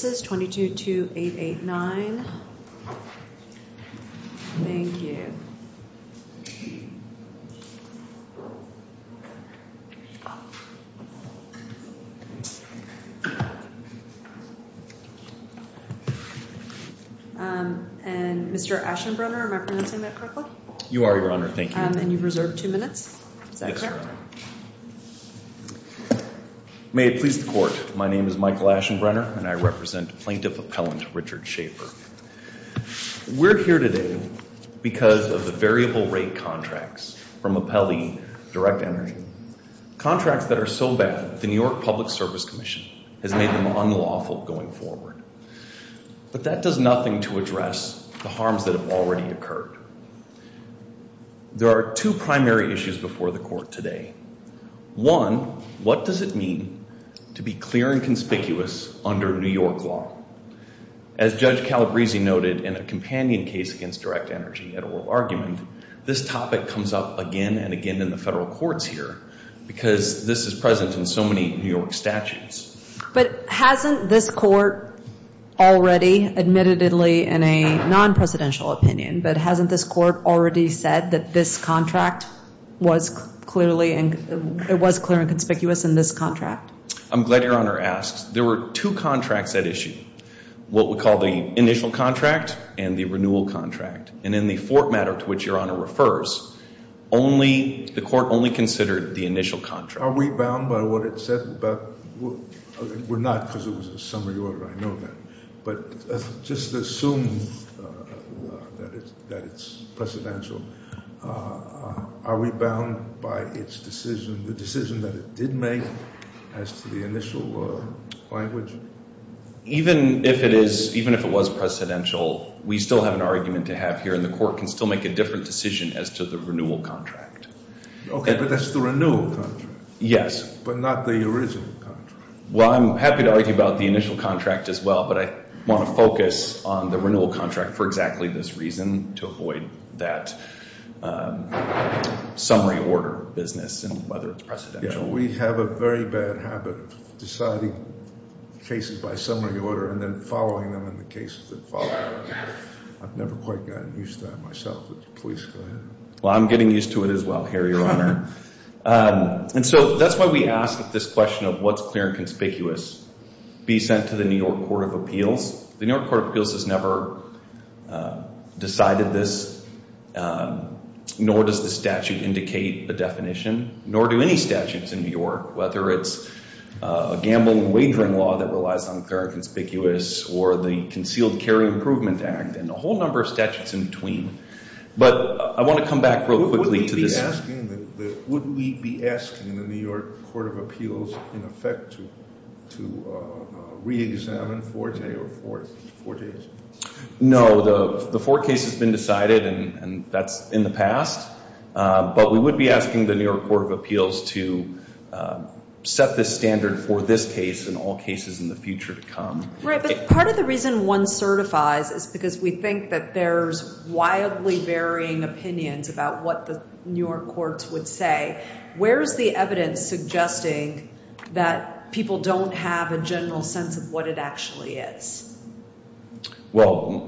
222-889. May it please the court, my name is Michael Aschenbrenner and I represent Plaintiff Appellant Richard Schafer. We're here today because of the variable rate contracts from Appellee Direct Energy. Contracts that are so bad the New York Public Service Commission has made them unlawful going forward. But that does nothing to address the harms that have already occurred. There are two primary issues before the court today. One, what does it mean to be clear and conspicuous under New York law? As Judge Calabrese noted in a companion case against Direct Energy at oral argument, this topic comes up again and again in the federal courts here because this is present in so many New York statutes. But hasn't this court already admittedly in a non-presidential opinion, but hasn't this in this contract? I'm glad your honor asked. There were two contracts at issue. What we call the initial contract and the renewal contract. And in the fort matter to which your honor refers, the court only considered the initial contract. Are we bound by what it said? We're not because it was a summary order, I know that. But just assume that it's precedential. Are we bound by its decision, the decision that it did make as to the initial language? Even if it is, even if it was precedential, we still have an argument to have here and the court can still make a different decision as to the renewal contract. Okay, but that's the renewal contract. Yes. But not the original contract. Well, I'm happy to argue about the initial contract as well, but I want to focus on the renewal contract for exactly this reason to avoid that summary order business and whether it's precedential. We have a very bad habit of deciding cases by summary order and then following them in the cases that follow. I've never quite gotten used to that myself. Please go ahead. Well, I'm getting used to it as well here, your honor. And so that's why we ask this question of what's clear and conspicuous be sent to the New York Court of Appeals. The New York Court of Appeals has never decided this, nor does the statute indicate the definition, nor do any statutes in New York, whether it's a gamble and wagering law that relies on clear and conspicuous or the Concealed Carry Improvement Act and a whole number of statutes in between. But I want to come back real quickly to this. Would we be asking the New York Court of Appeals, in effect, to re-examine Forte or Fortes? No. The Forte case has been decided and that's in the past. But we would be asking the New York Court of Appeals to set this standard for this case and all cases in the future to come. Right. But part of the reason one certifies is because we think that there's wildly varying opinions about what the New York courts would say. Where's the evidence suggesting that people don't have a general sense of what it actually is? Well,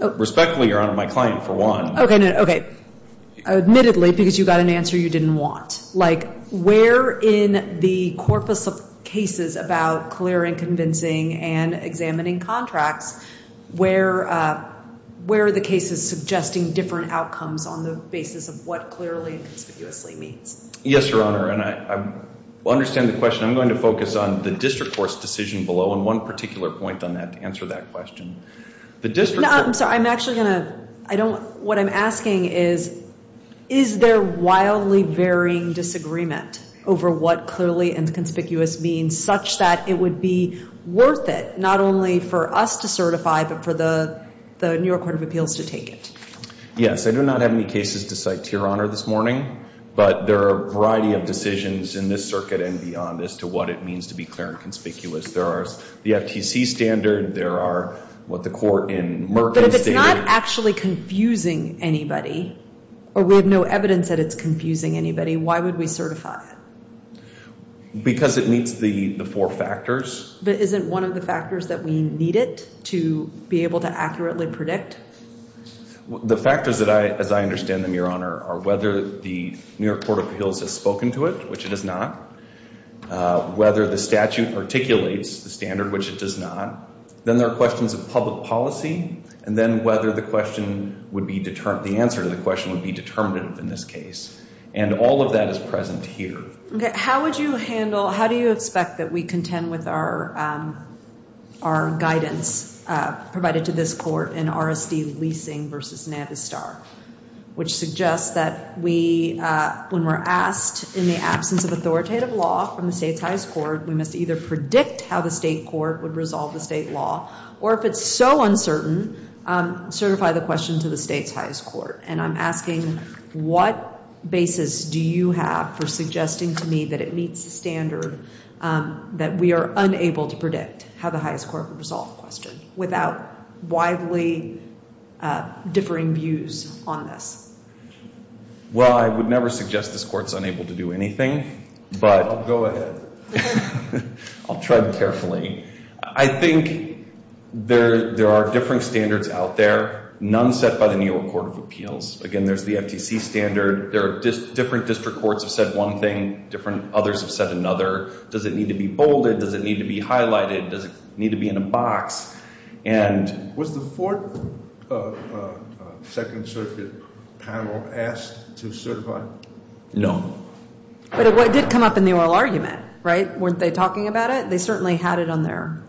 respectfully, your honor, my client, for one. Okay. Admittedly, because you got an answer you didn't want. Like where in the corpus of cases about clear and convincing and examining contracts, where are the cases suggesting different outcomes on the basis of what clearly and conspicuously means? Yes, your honor. And I understand the question. I'm going to focus on the district court's decision below and one particular point on that to answer that question. No, I'm sorry. I'm actually going to, I don't, what I'm asking is, is there wildly varying disagreement over what clearly and conspicuous means such that it would be worth it, not only for us to certify, but for the New York Court of Appeals to take it? Yes. I do not have any cases to cite to your honor this morning, but there are a variety of decisions in this circuit and beyond as to what it means to be clear and conspicuous. There are the FTC standard. There are what the court in Merck is stating. But if it's not actually confusing anybody, or we have no evidence that it's confusing anybody, why would we certify it? Because it meets the four factors. But isn't one of the factors that we need it to be able to accurately predict? The factors that I, as I understand them, your honor, are whether the New York Court of Appeals has spoken to it, which it has not. Whether the statute articulates the standard, which it does not. Then there are questions of public policy, and then whether the question would be determined, the answer to the question would be determinative in this case. And all of that is present here. Okay. How would you handle, how do you expect that we contend with our guidance provided to this court in RSD leasing versus Navistar? Which suggests that we, when we're asked in the absence of authoritative law from the state's highest court, we must either predict how the state court would resolve the state law, or if it's so uncertain, certify the question to the state's highest court. And I'm asking, what basis do you have for suggesting to me that it meets the standard that we are unable to predict how the highest court would resolve the question, without widely differing views on this? Well, I would never suggest this court's unable to do anything, but Go ahead. I'll tread carefully. I think there are different standards out there. None set by the New York Court of Appeals. Again, there's the FTC standard. There are different district courts have said one thing, different others have said another. Does it need to be bolded? Does it need to be highlighted? Does it need to be in a box? And Was the Fourth Second Circuit panel asked to certify? No. But it did come up in the oral argument, right? Weren't they talking about it? They certainly had it on their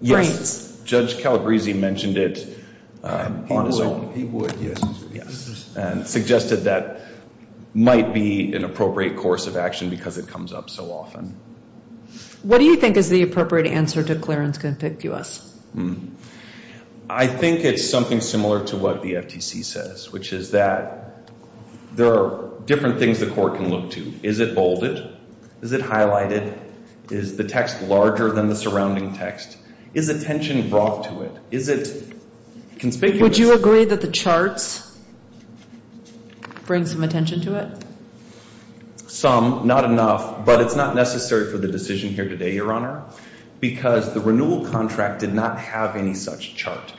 brains. Yes. Judge Calabresi mentioned it on his own. He would, yes. And suggested that might be an appropriate course of action because it comes up so often. What do you think is the appropriate answer to clearance contiguous? I think it's something similar to what the FTC says, which is that there are different things the court can look to. Is it bolded? Is it highlighted? Is the text larger than the surrounding text? Is attention brought to it? Would you agree that the charts bring some attention to it? Some. Not enough. But it's not necessary for the decision here today, Your Honor. Because the renewal contract did not have any such chart.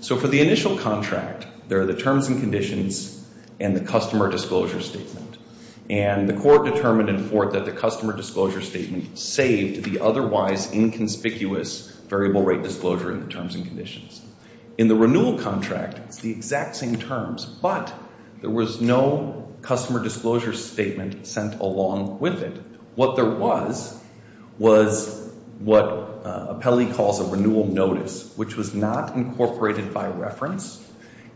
So for the initial contract, there are the terms and conditions and the customer disclosure statement. And the court determined in Fort that the customer disclosure statement saved the otherwise inconspicuous variable rate disclosure in the terms and conditions. In the renewal contract, it's the exact same terms, but there was no customer disclosure statement sent along with it. What there was, was what Apelli calls a renewal notice, which was not incorporated by reference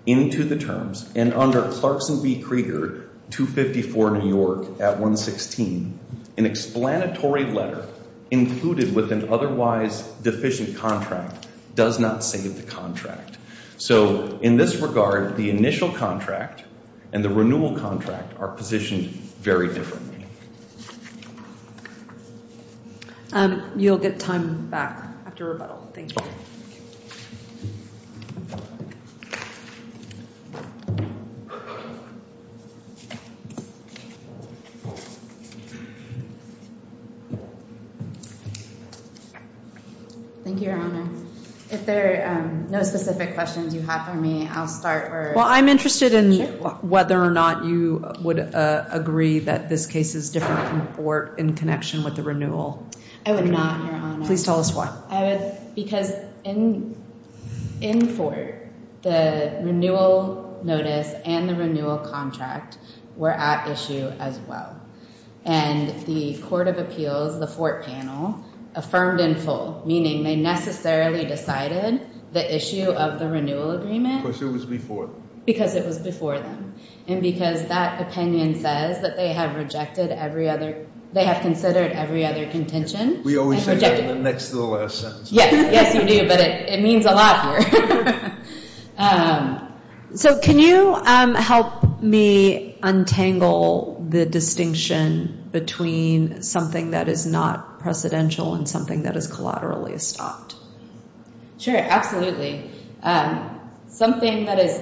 into the terms. And under Clarkson v. Krieger, 254 New York at 116, an explanatory letter included with an otherwise deficient contract does not save the contract. So in this regard, the initial contract and the renewal contract are positioned very differently. You'll get time back after rebuttal. Thank you. Thank you. Thank you, Your Honor. If there are no specific questions you have for me, I'll start. Well, I'm interested in whether or not you would agree that this case is different from Fort in connection with the renewal. I would not, Your Honor. Please tell us why. Because in Fort, the renewal notice and the renewal contract were at issue as well. And the Court of Appeals, the Fort panel, affirmed in full, meaning they necessarily decided the issue of the renewal agreement. Because it was before them. And because that opinion says that they have rejected every other, they have considered every other contention. We always say that next to the last sentence. Yes, you do. But it means a lot here. So can you help me untangle the distinction between something that is not precedential and something that is collaterally stopped? Sure, absolutely. Something that is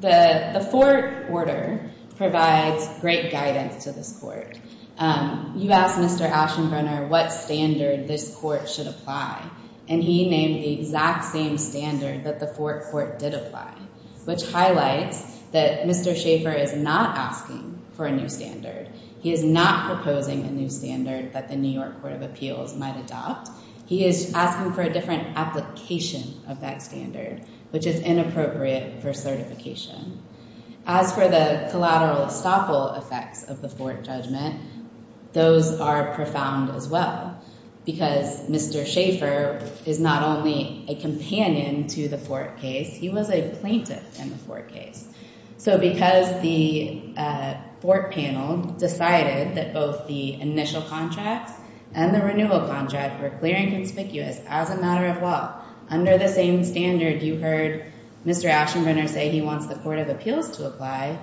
the Fort order provides great guidance to this court. You asked Mr. Aschenbrenner what standard this court should apply. And he named the exact same standard that the Fort court did apply. Which highlights that Mr. Schaefer is not asking for a new standard. He is not proposing a new standard that the New York Court of Appeals might adopt. He is asking for a different application of that standard. Which is inappropriate for certification. As for the collateral estoppel effects of the Fort judgment, those are profound as well. Because Mr. Schaefer is not only a companion to the Fort case, he was a plaintiff in the Fort case. So because the Fort panel decided that both the initial contract and the renewal contract were clear and conspicuous as a matter of law under the same standard you heard Mr. Aschenbrenner say he wants the Court of Appeals to apply,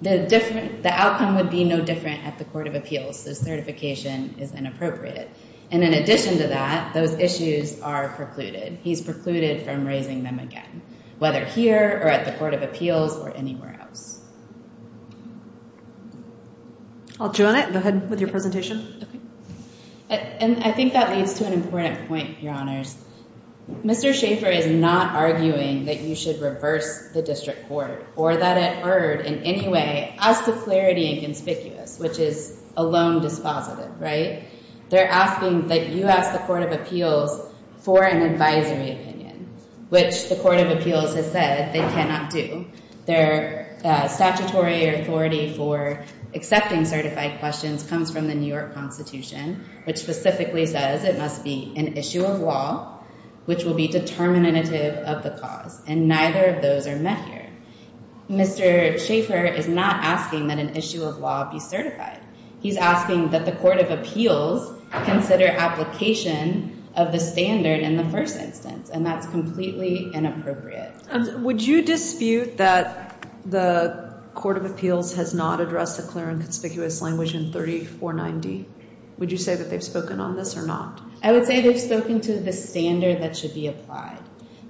the outcome would be no different at the Court of Appeals. So certification is inappropriate. And in addition to that, those issues are precluded. He's precluded from raising them again. Whether here or at the Court of Appeals or anywhere else. I'll join it. Go ahead with your presentation. And I think that leads to an important point, Your Honors. Mr. Schaefer is not arguing that you should reverse the District Court or that it erred in any way as to clarity being conspicuous, which is alone dispositive, right? They're asking that you ask the Court of Appeals for an advisory opinion, which the Court of Appeals has said they cannot do. Their statutory authority for accepting certified questions comes from the New York Constitution, which specifically says it must be an issue of law which will be determinative of the cause. And neither of those are met here. Mr. Schaefer is not asking that an issue of law be certified. He's asking that the Court of Appeals consider application of the standard in the first instance. And that's completely inappropriate. Would you dispute that the Court of Appeals has not addressed the clear and conspicuous language in 3490? Would you say that they've spoken on this or not? I would say they've spoken to the standard that should be applied.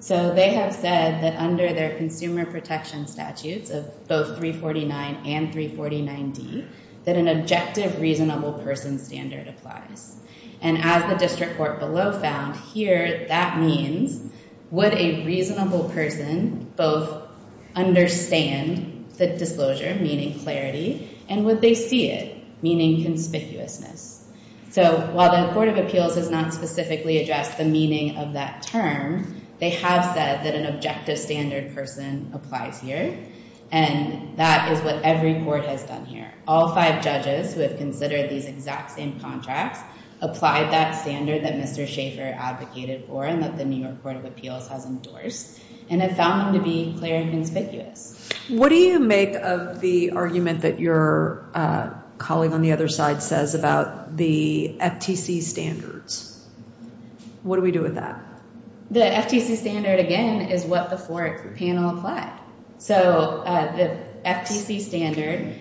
They have said that under their both 349 and 349D that an objective, reasonable person standard applies. And as the District Court below found here, that means would a reasonable person both understand the disclosure, meaning clarity, and would they see it? Meaning conspicuousness. So while the Court of Appeals has not specifically addressed the meaning of that term, they have said that an objective standard person applies here, and that is what every court has done here. All five judges who have considered these exact same contracts applied that standard that Mr. Schaeffer advocated for and that the New York Court of Appeals has endorsed, and have found them to be clear and conspicuous. What do you make of the argument that your colleague on the other side says about the FTC standards? What do we do with that? The FTC standard, again, is what the four panel applied. So the FTC standard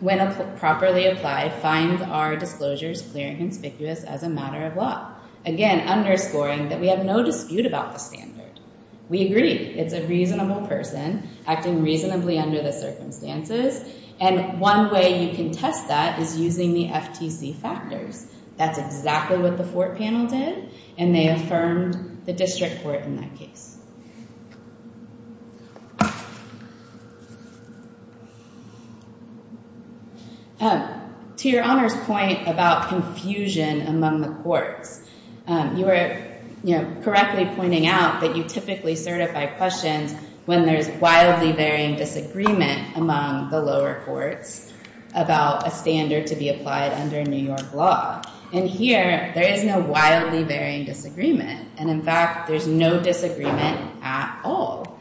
when properly applied, finds our disclosures clear and conspicuous as a matter of law. Again, underscoring that we have no dispute about the standard. We agree. It's a reasonable person, acting reasonably under the circumstances, and one way you can test that is using the FTC factors. That's exactly what the four panel did, and they affirmed the district court in that case. To your Honor's point about confusion among the courts, you were correctly pointing out that you typically certify questions when there's wildly varying disagreement among the lower courts about a standard to be applied under New York law. And here, there is no wildly varying disagreement, and in fact, there's no disagreement at all.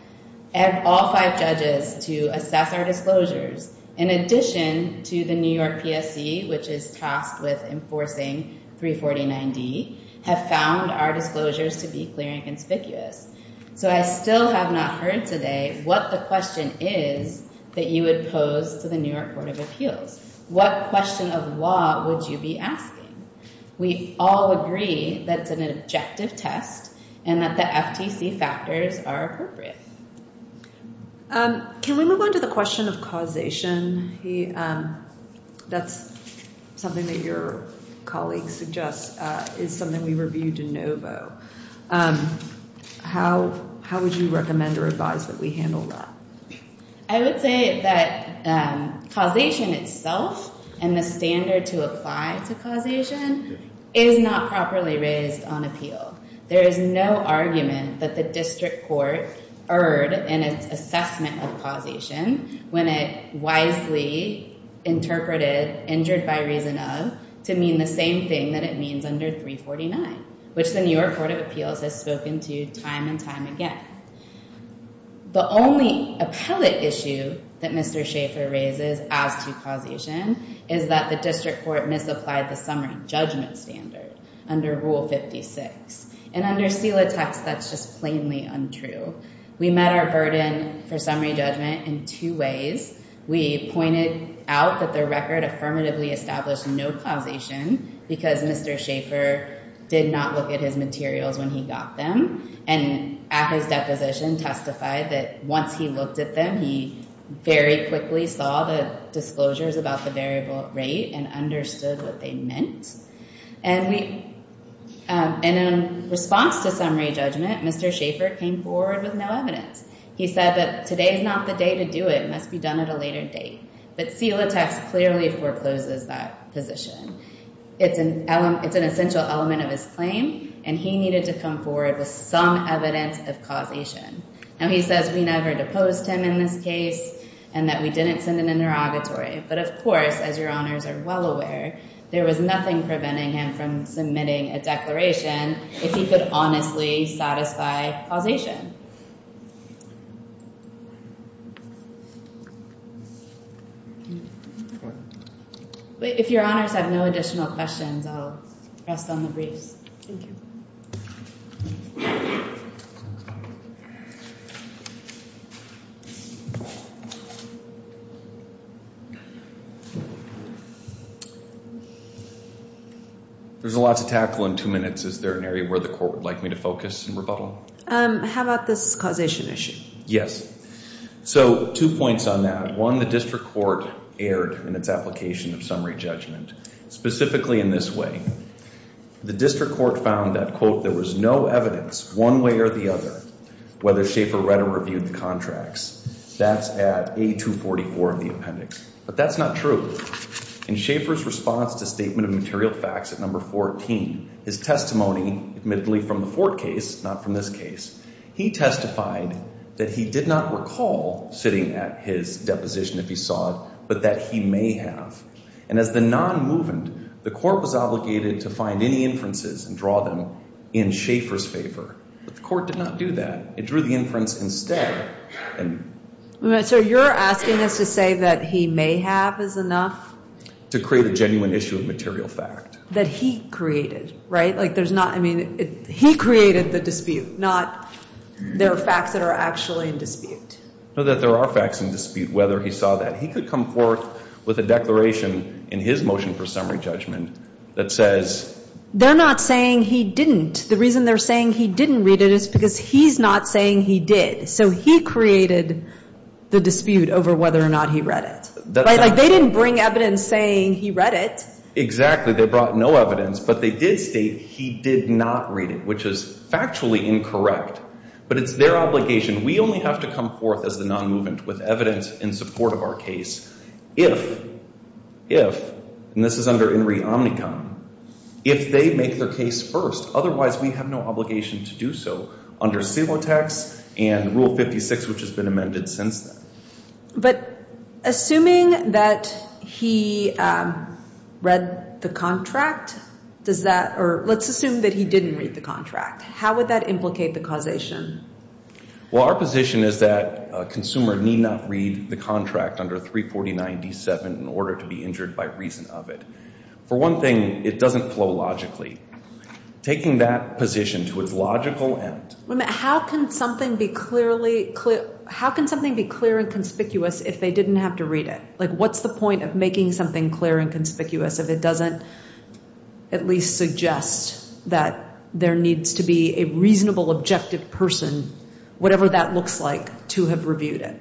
And all five judges to assess our disclosures, in addition to the New York PSC, which is tasked with enforcing 349D, have found our disclosures to be clear and conspicuous. So I still have not heard today what the question is that you would pose to the New York Court of Appeals. What question of law would you be asking? We all agree that it's an objective test and that the FTC factors are appropriate. Can we move on to the question of causation? That's something that your colleague suggests is something we reviewed in NOVO. How would you recommend or advise that we handle that? I would say that causation itself and the standard to apply to causation is not properly raised on appeal. There is no argument that the district court erred in its assessment of causation when it wisely interpreted injured by reason of to mean the same thing that it means under 349, which the New York Court of Appeals has spoken to time and time again. The only appellate issue that Mr. Schaeffer raises as to causation is that the district court misapplied the summary judgment standard under Rule 56. And under SELA text, that's just plainly untrue. We met our burden for summary judgment in two ways. We pointed out that the record affirmatively established no causation because Mr. Schaeffer did not look at his materials when he got them and at his deposition testified that once he looked at them, he very quickly saw the disclosures about the variable rate and understood what they meant. And we in response to summary judgment, Mr. Schaeffer came forward with no evidence. He said that today's not the day to do it. It must be done at a later date. But SELA text clearly forecloses that position. It's an essential element of his claim and he needed to come forward with some evidence of causation. Now he says we never deposed him in this case and that we didn't send an interrogatory. But of course as your honors are well aware, there was nothing preventing him from submitting a declaration if he could honestly satisfy causation. If your honors have no additional questions, I'll rest on the briefs. Thank you. There's a lot to tackle in two minutes. Is there an area where the court would like me to focus and rebuttal? How about this causation issue? Yes. So two points on that. One, the district court erred in its application of summary judgment, specifically in this way. The district court found that, quote, there was no evidence one way or the other whether Schaefer read or reviewed the contracts. That's at A244 of the appendix. But that's not true. In Schaefer's response to statement of material facts at number 14, his testimony, admittedly from the Ford case, not from this case, he testified that he did not recall sitting at his deposition if he saw it, but that he may have. And as the non-movement, the court was obligated to find any inferences and draw them in Schaefer's favor. But the court did not do that. It drew the inference instead. So you're asking us to say that he may have is enough? To create a genuine issue of material fact. That he created, right? Like there's not, I mean, he created the dispute, not there are facts that are actually in dispute. No, that there are facts in dispute, whether he saw that. He could come forth with a declaration in his motion for summary judgment that says... They're not saying he didn't. The reason they're saying he didn't read it is because he's not saying he did. So he created the dispute over whether or not he read it. Right? Like they didn't bring evidence saying he read it. Exactly. They brought no evidence, but they did state he did not read it, which is factually incorrect. But it's their obligation. We only have to come forth as the non-movement with evidence in support of our case if, if, and this is under INRI Omnicom, if they make their case first, otherwise we have no obligation to do so under CILOTAX and Rule 56, which has been amended since then. But assuming that he read the contract, does that, or let's assume that he didn't read the contract. How would that implicate the causation? Well, our position is that a consumer need not read the contract under 349 97 in order to be injured by reason of it. For one thing, it doesn't flow logically. Taking that position to its logical end. How can something be clearly, how can something be clear and conspicuous if they didn't have to read it? Like what's the point of making something clear and conspicuous if it doesn't at least suggest that there needs to be a reasonable, objective person, whatever that looks like, to have reviewed it?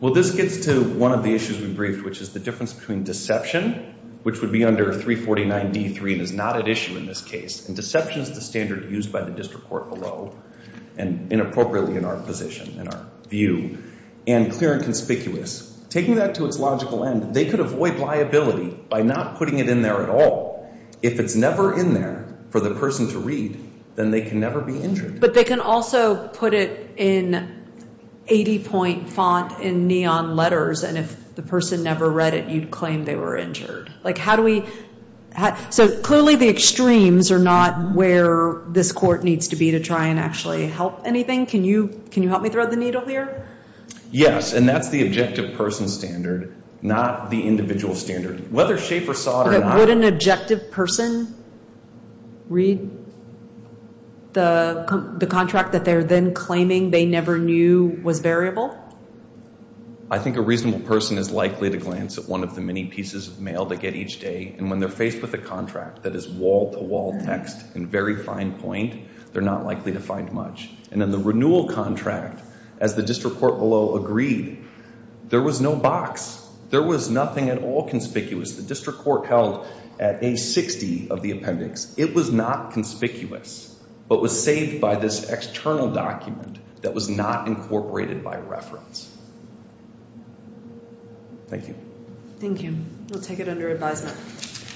Well, this gets to one of the issues we briefed, which is the difference between deception, which would be under 349 D3 and is not at issue in this case. Deception is the standard used by the district court below and inappropriately in our position, in our view. And clear and conspicuous. Taking that to its logical end, they could avoid liability by not putting it in there at all. If it's never in there for the person to read, then they can never be injured. But they can also put it in 80-point font in neon letters, and if the person never read it, you'd claim they were injured. Like how do we... So clearly the extremes are not where this court needs to be to try and actually help anything. Can you help me throw the needle here? Yes, and that's the objective person standard, not the individual standard. Whether Schafer saw it or not... Would an objective person read the contract that they're then claiming they never knew was variable? I think a reasonable person is likely to glance at one of the many pieces of mail they get each day, and when they're faced with a contract that is wall-to-wall text in very fine point, they're not likely to find much. And in the renewal contract, as the district court below agreed, there was no box. There was nothing at all conspicuous. The district court held at A60 of the appendix. It was not conspicuous, but was saved by this external document that was not incorporated by reference. Thank you. Thank you. We'll take it under advisement.